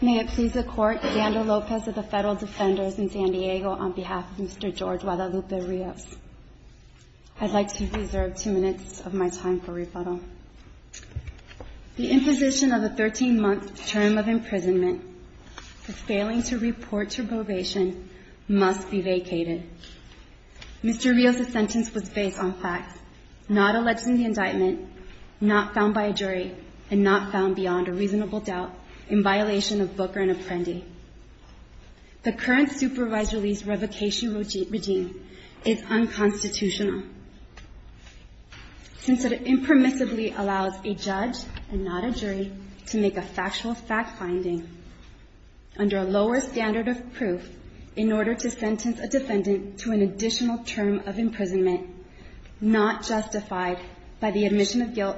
May it please the Court, Xander Lopez of the Federal Defenders in San Diego on behalf of Mr. George Guadalupe Rios. I'd like to reserve two minutes of my time for rebuttal. The imposition of a 13-month term of imprisonment for failing to report to probation must be vacated. Mr. Rios' sentence was based on facts, not alleging the indictment, not found by a jury, and not found beyond a reasonable doubt in violation of Booker and Apprendi. The current supervised release revocation regime is unconstitutional, since it impermissibly allows a judge and not a jury to make a factual fact-finding under a lower standard of proof in order to sentence a defendant to an additional term of imprisonment not justified by the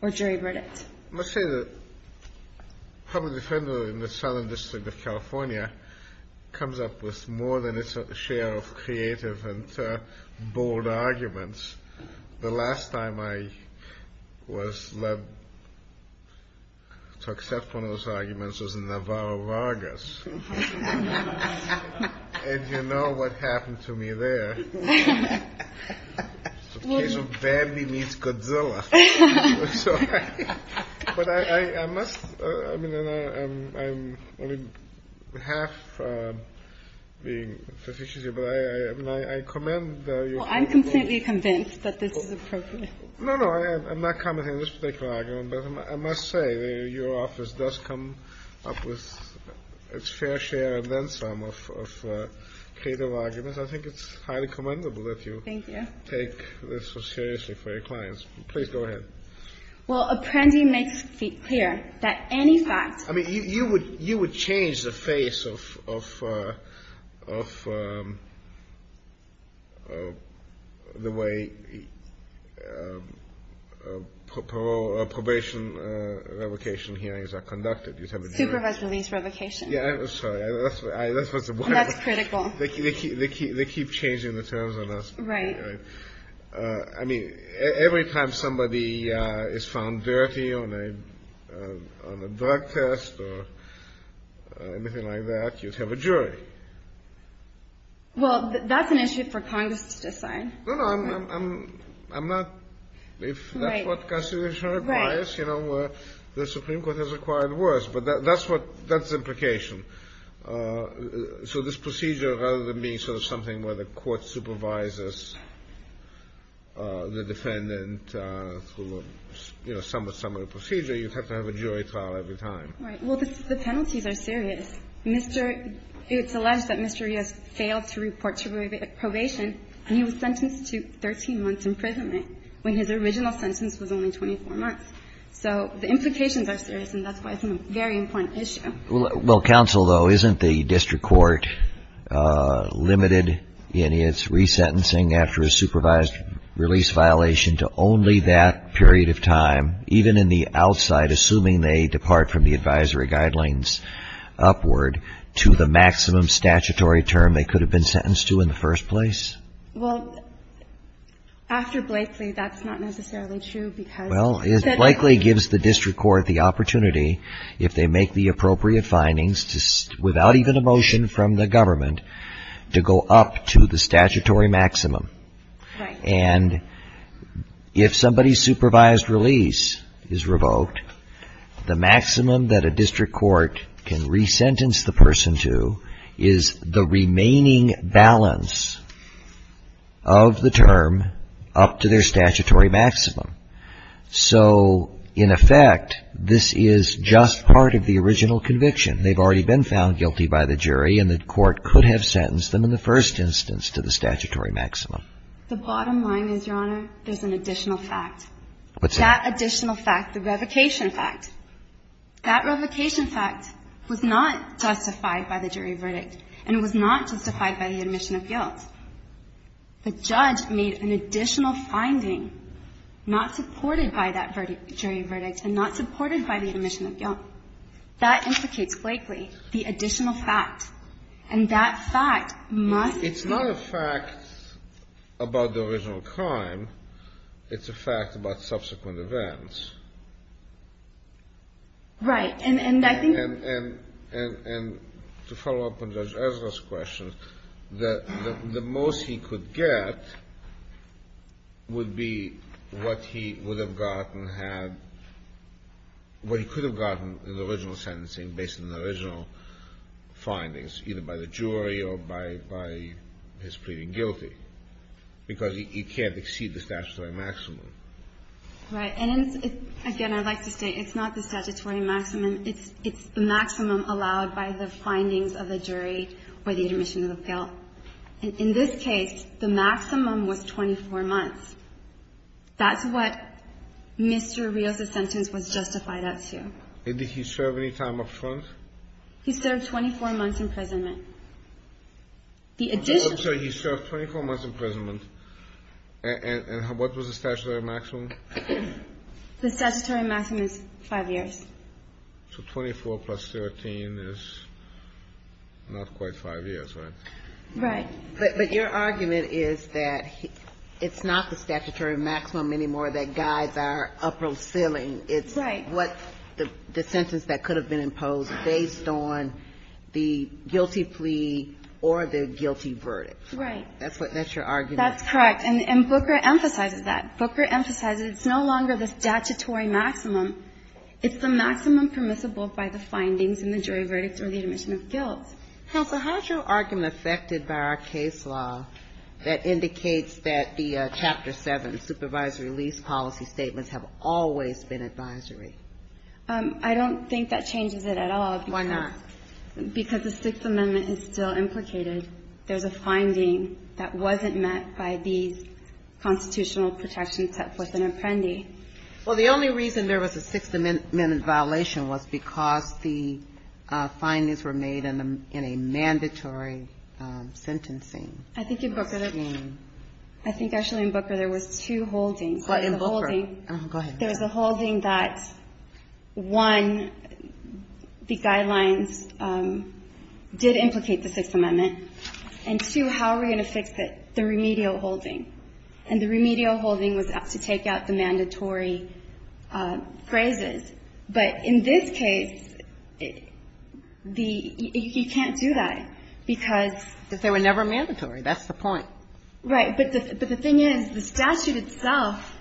or jury verdict. Let's say the public defender in the Southern District of California comes up with more than its share of creative and bold arguments. The last time I was led to accept one of those arguments was in Navarro Vargas. And you know what happened to me there. I'm completely convinced that this is appropriate. No, no, I'm not commenting on this particular argument, but I must say that your office does come up with its fair share and then creative arguments. I think it's highly commendable that you take this so seriously for your clients. Please go ahead. Well, Apprendi makes it clear that any fact. I mean, you would you would change the face of the way probation revocation hearings are conducted. Supervised release revocation. Yeah, that's critical. They keep changing the terms on us. Right. I mean, every time somebody is found dirty on a drug test or anything like that, you'd have a jury. Well, that's an issue for Congress to decide. No, no, I'm not. If that's what the Constitution requires, you know, the Supreme Court has required worse. But that's what that's implication. So this procedure, rather than being sort of something where the court supervises the defendant, you know, somewhat similar procedure, you have to have a jury trial every time. Right. Well, the penalties are serious. Mr. It's alleged that Mr. has failed to report to probation and he was sentenced to 13 months imprisonment when his original sentence was only 24 months. So the implications are serious. And that's why it's a very important issue. Well, counsel, though, isn't the district court limited in its resentencing after a supervised release violation to only that period of time, even in the outside, assuming they depart from the advisory guidelines upward to the maximum statutory term they could have been sentenced to in the first place? Well, after Blakely, that's not necessarily true because the – Well, Blakely gives the district court the opportunity, if they make the appropriate findings without even a motion from the government, to go up to the statutory maximum. Right. And if somebody's supervised release is revoked, the maximum that a district court can resentence the person to is the remaining balance of the term up to their statutory maximum. So in effect, this is just part of the original conviction. They've already been found guilty by the jury and the court could have sentenced them in the first instance to the statutory maximum. The bottom line is, Your Honor, there's an additional fact. What's that? That additional fact, the revocation fact. That revocation fact was not justified by the jury verdict and was not justified by the admission of guilt. The judge made an additional finding not supported by that jury verdict and not supported by the admission of guilt. That implicates, Blakely, the additional fact. And that fact must be – Right. And I think – And to follow up on Judge Ezra's question, the most he could get would be what he would have gotten had – what he could have gotten in the original sentencing based on the original findings, either by the jury or by his pleading guilty, because he can't exceed the statutory maximum. Right. And it's – again, I'd like to state it's not the statutory maximum. It's the maximum allowed by the findings of the jury or the admission of guilt. In this case, the maximum was 24 months. That's what Mr. Rios' sentence was justified up to. And did he serve any time up front? He served 24 months imprisonment. The additional – The statutory maximum is 5 years. So 24 plus 13 is not quite 5 years, right? Right. But your argument is that it's not the statutory maximum anymore that guides our upper ceiling. Right. It's what – the sentence that could have been imposed based on the guilty plea or the guilty verdict. Right. That's what – that's your argument. That's correct. And Booker emphasizes that. Booker emphasizes it's no longer the statutory maximum. It's the maximum permissible by the findings in the jury verdict or the admission of guilt. Counsel, how is your argument affected by our case law that indicates that the Chapter 7 supervisory lease policy statements have always been advisory? I don't think that changes it at all. Why not? Because the Sixth Amendment is still implicated. There's a finding that wasn't met by these constitutional protections set forth in Apprendi. Well, the only reason there was a Sixth Amendment violation was because the findings were made in a mandatory sentencing. I think in Booker there was two holdings. In Booker. Go ahead. There was a holding that, one, the guidelines did implicate the Sixth Amendment. And, two, how are we going to fix it? The remedial holding. And the remedial holding was to take out the mandatory phrases. But in this case, the – you can't do that because – But they were never mandatory. That's the point. Right. But the thing is, the statute itself,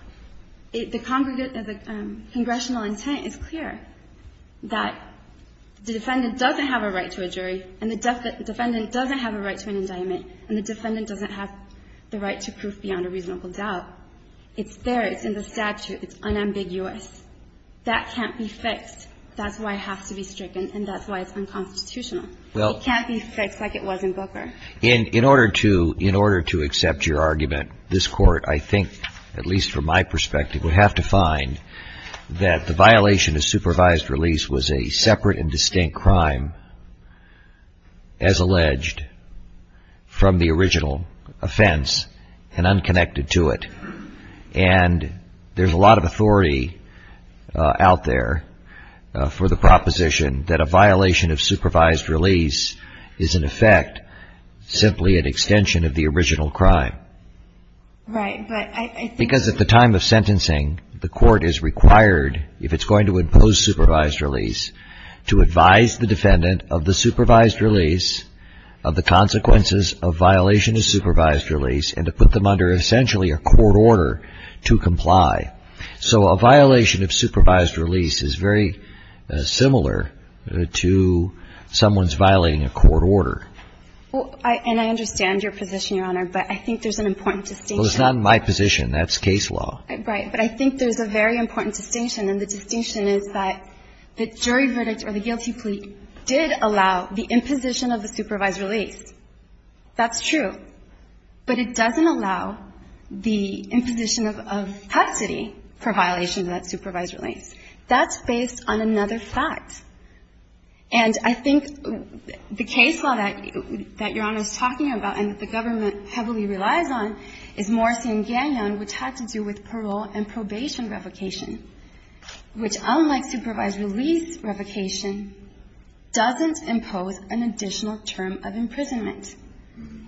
the congressional intent is clear, that the defendant doesn't have a right to a jury and the defendant doesn't have a right to an indictment and the defendant doesn't have the right to proof beyond a reasonable doubt. It's there. It's in the statute. It's unambiguous. That can't be fixed. That's why it has to be stricken and that's why it's unconstitutional. It can't be fixed like it was in Booker. In order to accept your argument, this Court, I think, at least from my perspective, would have to find that the violation of supervised release was a separate and distinct crime, as alleged, from the original offense and unconnected to it. And there's a lot of authority out there for the proposition that a violation of supervised release is in effect simply an extension of the original crime. Right. But I think – Because at the time of sentencing, the Court is required, if it's going to impose supervised release, to advise the defendant of the supervised release, of the consequences of violation of supervised release and to put them under essentially a court order to comply. So a violation of supervised release is very similar to someone's violating a court order. And I understand your position, Your Honor, but I think there's an important distinction. Well, it's not my position. That's case law. Right. But I think there's a very important distinction and the distinction is that the jury verdict or the guilty plea did allow the imposition of the supervised release. That's true. But it doesn't allow the imposition of custody for violations of that supervised release. That's based on another fact. And I think the case law that Your Honor is talking about and that the government heavily relies on is Morrissey v. Gagnon, which had to do with parole and probation revocation, which, unlike supervised release revocation, doesn't impose an additional term of imprisonment.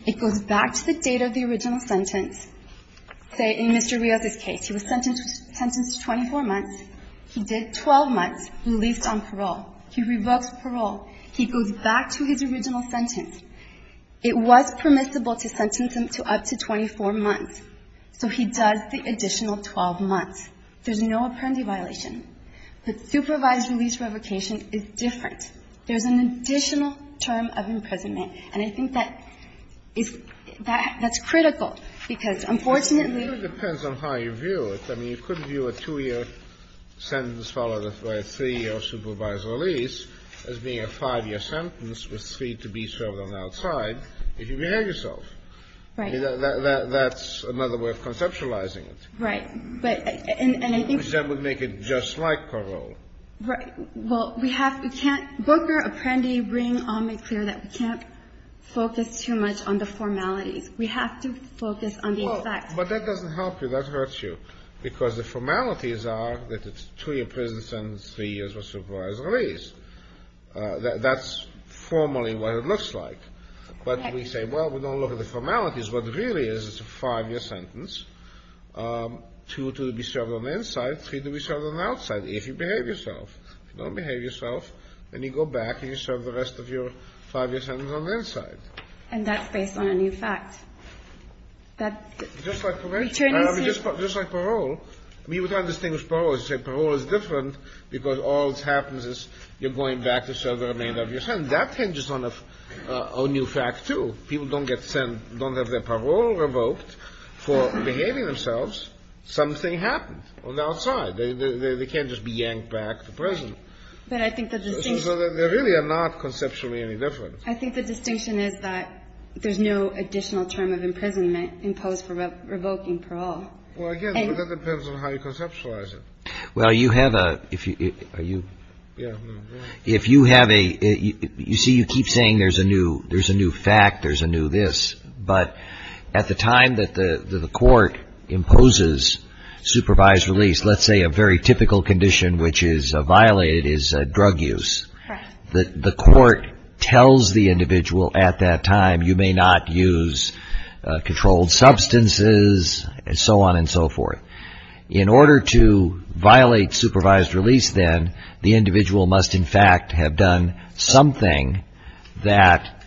It goes back to the date of the original sentence. Say, in Mr. Rios' case, he was sentenced to 24 months. He did 12 months, released on parole. He revoked parole. He goes back to his original sentence. It was permissible to sentence him to up to 24 months. So he does the additional 12 months. There's no apparently violation. But supervised release revocation is different. There's an additional term of imprisonment. And I think that is that's critical, because, unfortunately, It really depends on how you view it. I mean, you could view a two-year sentence followed by a three-year supervised release as being a five-year sentence with three to be served on the outside if you behave yourself. Right. That's another way of conceptualizing it. Right. And I think that would make it just like parole. Right. Well, we have, we can't, Booker, Apprendi, Ring, all make clear that we can't focus too much on the formalities. We have to focus on the effect. But that doesn't help you. That hurts you. Because the formalities are that it's a two-year prison sentence, three years of supervised release. That's formally what it looks like. But we say, well, we don't look at the formalities. What it really is, it's a five-year sentence, two to be served on the inside, three to be served on the outside, if you behave yourself. If you don't behave yourself, then you go back and you serve the rest of your five-year sentence on the inside. And that's based on a new fact. Just like parole. We would not distinguish parole. We would say parole is different because all that happens is you're going back to serve the remainder of your sentence. That hinges on a new fact, too. People don't get sent, don't have their parole revoked for behaving themselves. Something happened on the outside. They can't just be yanked back to prison. So they really are not conceptually any different. I think the distinction is that there's no additional term of imprisonment imposed for revoking parole. Well, again, that depends on how you conceptualize it. Well, you have a – are you – if you have a – you see, you keep saying there's a new fact, there's a new this. But at the time that the court imposes supervised release, let's say a very typical condition which is violated is drug use. The court tells the individual at that time you may not use controlled substances and so on and so forth. In order to violate supervised release then, the individual must in fact have done something that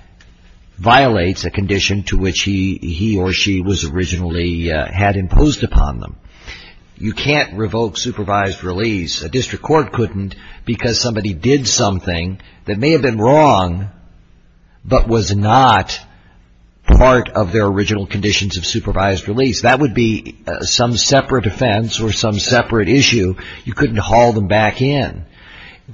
violates a condition to which he or she was originally – had imposed upon them. You can't revoke supervised release. A district court couldn't because somebody did something that may have been wrong but was not part of their original conditions of supervised release. That would be some separate offense or some separate issue. You couldn't haul them back in.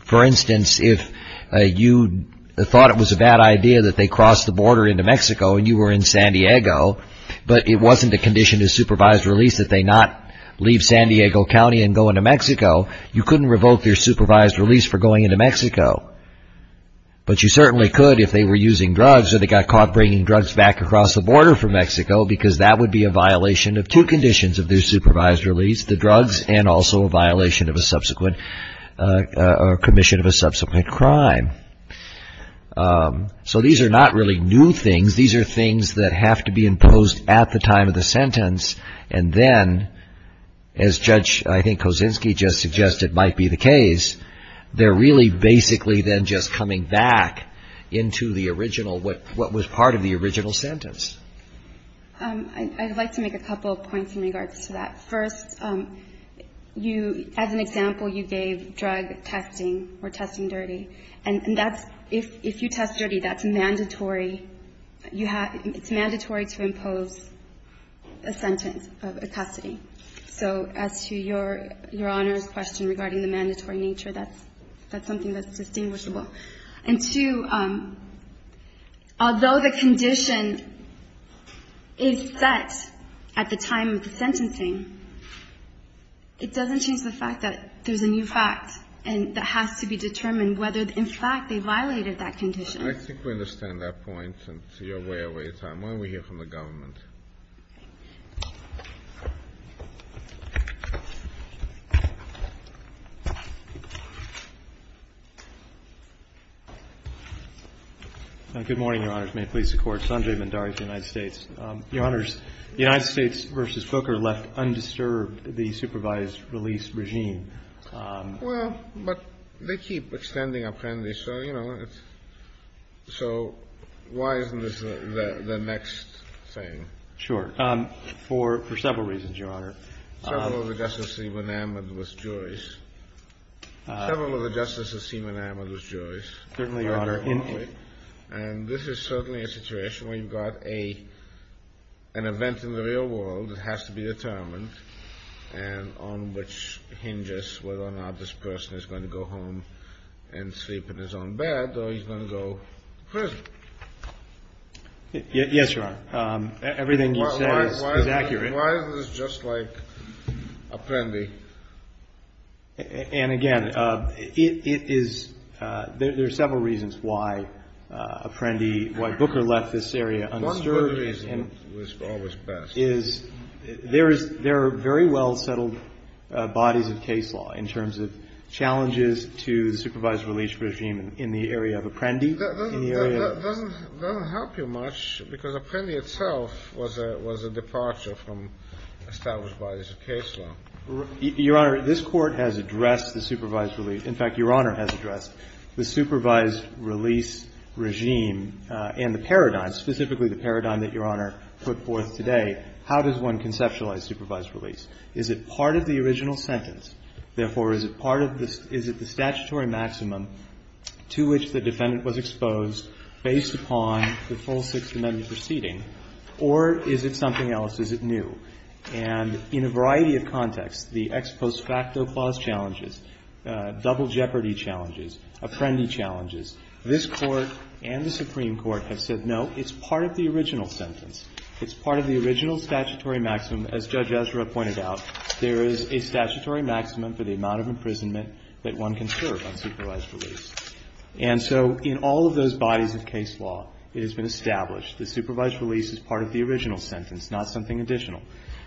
For instance, if you thought it was a bad idea that they crossed the border into Mexico and you were in San Diego, but it wasn't a condition to supervised release that they not leave San Diego County and go into Mexico, you couldn't revoke their supervised release for going into Mexico. But you certainly could if they were using drugs or they got caught bringing drugs back across the border from Mexico because that would be a violation of two conditions of their supervised release, the drugs and also a violation of a subsequent – or commission of a subsequent crime. So these are not really new things. These are things that have to be imposed at the time of the sentence and then, as Judge Kosinski just suggested might be the case, they're really basically then just coming back into the original – what was part of the original sentence. I'd like to make a couple of points in regards to that. First, you – as an example, you gave drug testing or testing dirty. And that's – if you test dirty, that's mandatory. You have – it's mandatory to impose a sentence of custody. So as to Your Honor's question regarding the mandatory nature, that's something that's distinguishable. And two, although the condition is set at the time of the sentencing, it doesn't change the fact that there's a new fact and that has to be determined whether, in fact, they violated that condition. I think we understand that point. And you're way over your time. Why don't we hear from the government? Okay. Good morning, Your Honors. May it please the Court. Sanjay Mandari of the United States. Your Honors, the United States v. Booker left undisturbed the supervised release regime. Well, but they keep extending apprendice, so, you know, it's – so why isn't this the next thing? Sure. For several reasons, Your Honor. Several of the justices seem enamored with Joyce. Several of the justices seem enamored with Joyce. Certainly, Your Honor. And this is certainly a situation where you've got an event in the real world that has to be determined and on which hinges whether or not this person is going to go home and sleep in his own bed or he's going to go to prison. Yes, Your Honor. Everything you say is accurate. Why is this just like apprendi? And, again, it is – there are several reasons why apprendi, why Booker left this area undisturbed. One good reason was always best. There are very well settled bodies of case law in terms of challenges to the supervised release regime in the area of apprendi. That doesn't help you much because apprendi itself was a departure from established bodies of case law. Your Honor, this Court has addressed the supervised release. In fact, Your Honor has addressed the supervised release regime and the paradigm, specifically the paradigm that Your Honor put forth today. How does one conceptualize supervised release? Is it part of the original sentence? Therefore, is it part of the – is it the statutory maximum to which the defendant was exposed based upon the full Sixth Amendment proceeding? Or is it something else? Is it new? And in a variety of contexts, the ex post facto clause challenges, double jeopardy challenges, apprendi challenges, this Court and the Supreme Court have said, no, it's part of the original sentence. It's part of the original statutory maximum. As Judge Ezra pointed out, there is a statutory maximum for the amount of imprisonment that one can serve on supervised release. And so in all of those bodies of case law, it has been established the supervised release is part of the original sentence, not something additional.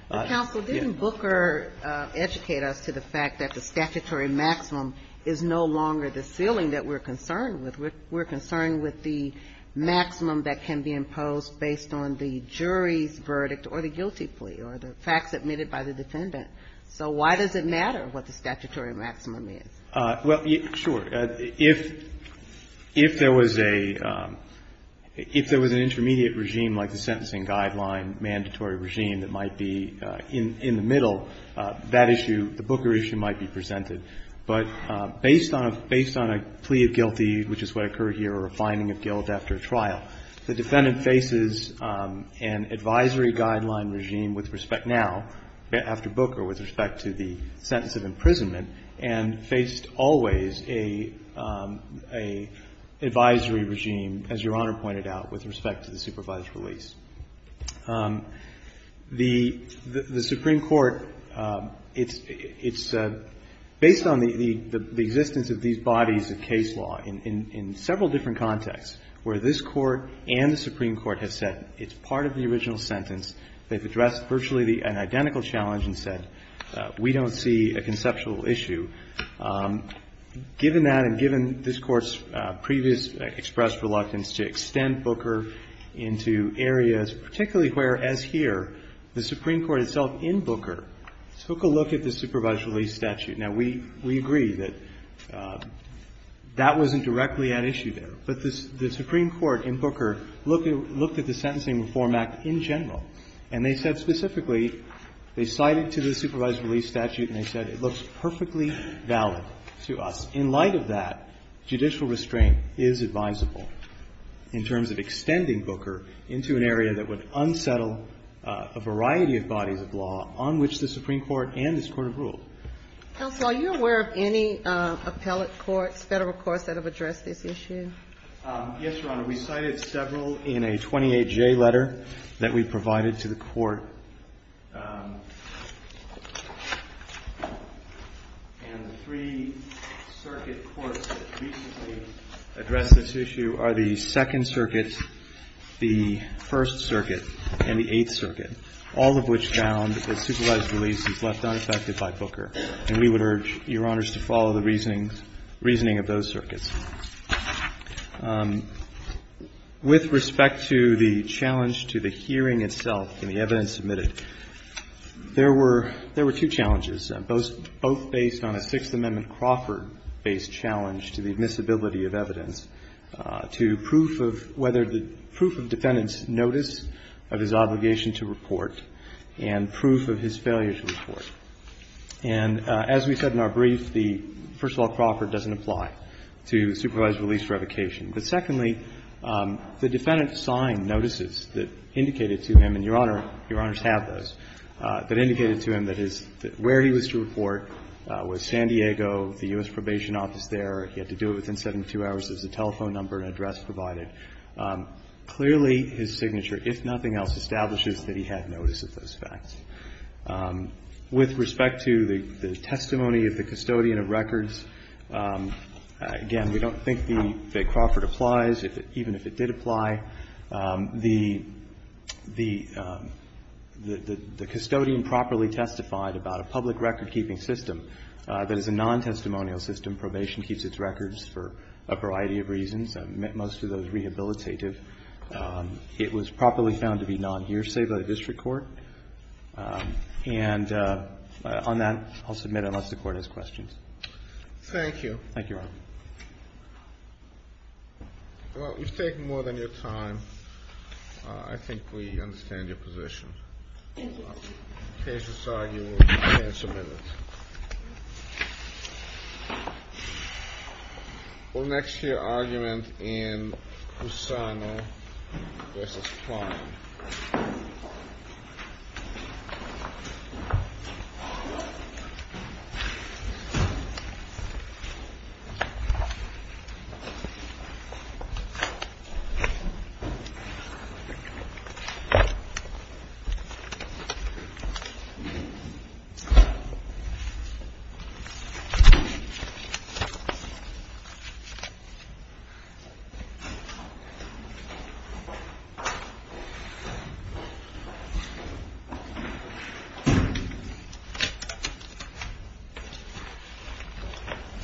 But counsel, didn't Booker educate us to the fact that the statutory maximum is no longer the ceiling that we're concerned with. We're concerned with the maximum that can be imposed based on the jury's verdict or the guilty plea or the facts admitted by the defendant. So why does it matter what the statutory maximum is? Well, sure. If there was a – if there was an intermediate regime like the sentencing guideline mandatory regime that might be in the middle, that issue, the Booker issue might be presented. But based on a plea of guilty, which is what occurred here, or a finding of guilt after a trial, the defendant faces an advisory guideline regime with respect now, after Booker, with respect to the sentence of imprisonment, and faced always a advisory regime, as Your Honor pointed out, with respect to the supervised release. The Supreme Court, it's based on the existence of these bodies of case law in several different contexts where this Court and the Supreme Court have said it's part of the original sentence. They've addressed virtually an identical challenge and said we don't see a conceptual issue. Given that and given this Court's previous expressed reluctance to extend Booker into areas, particularly where, as here, the Supreme Court itself in Booker took a look at the supervised release statute. Now, we agree that that wasn't directly at issue there. But the Supreme Court in Booker looked at the Sentencing Reform Act in general and they said specifically, they cited to the supervised release statute and they said it looks perfectly valid to us. In light of that, judicial restraint is advisable in terms of extending Booker into an area that would unsettle a variety of bodies of law on which the Supreme Court and this Court have ruled. Kagan. Are you aware of any appellate courts, Federal courts that have addressed this issue? Yes, Your Honor. We cited several in a 28J letter that we provided to the Court. And the three circuit courts that recently addressed this issue are the Second Circuit, the First Circuit, and the Eighth Circuit, all of which found that supervised release is left unaffected by Booker. And we would urge Your Honors to follow the reasoning of those circuits. With respect to the challenge to the hearing itself and the evidence submitted, there were two challenges, both based on a Sixth Amendment Crawford-based challenge to the admissibility of evidence, to proof of whether the proof of defendant's notice of his obligation to report and proof of his failure to report. And as we said in our brief, the first of all, Crawford doesn't apply to supervised release revocation. But secondly, the defendant signed notices that indicated to him, and Your Honor, Your Honors have those, that indicated to him that his – where he was to report was San Diego, the U.S. Probation Office there. He had to do it within 72 hours, there was a telephone number and address provided. Clearly, his signature, if nothing else, establishes that he had notice of those facts. With respect to the testimony of the custodian of records, again, we don't think that Crawford applies. Even if it did apply, the custodian properly testified about a public record-keeping system that is a non-testimonial system. Probation keeps its records for a variety of reasons. Most of those rehabilitative. It was properly found to be non-hearsay by the district court. And on that, I'll submit unless the Court has questions. Thank you. Thank you, Your Honor. Well, you've taken more than your time. I think we understand your position. Thank you. Case is signed. You can submit it. For next year argument in Pusano, this is fine. Thank you.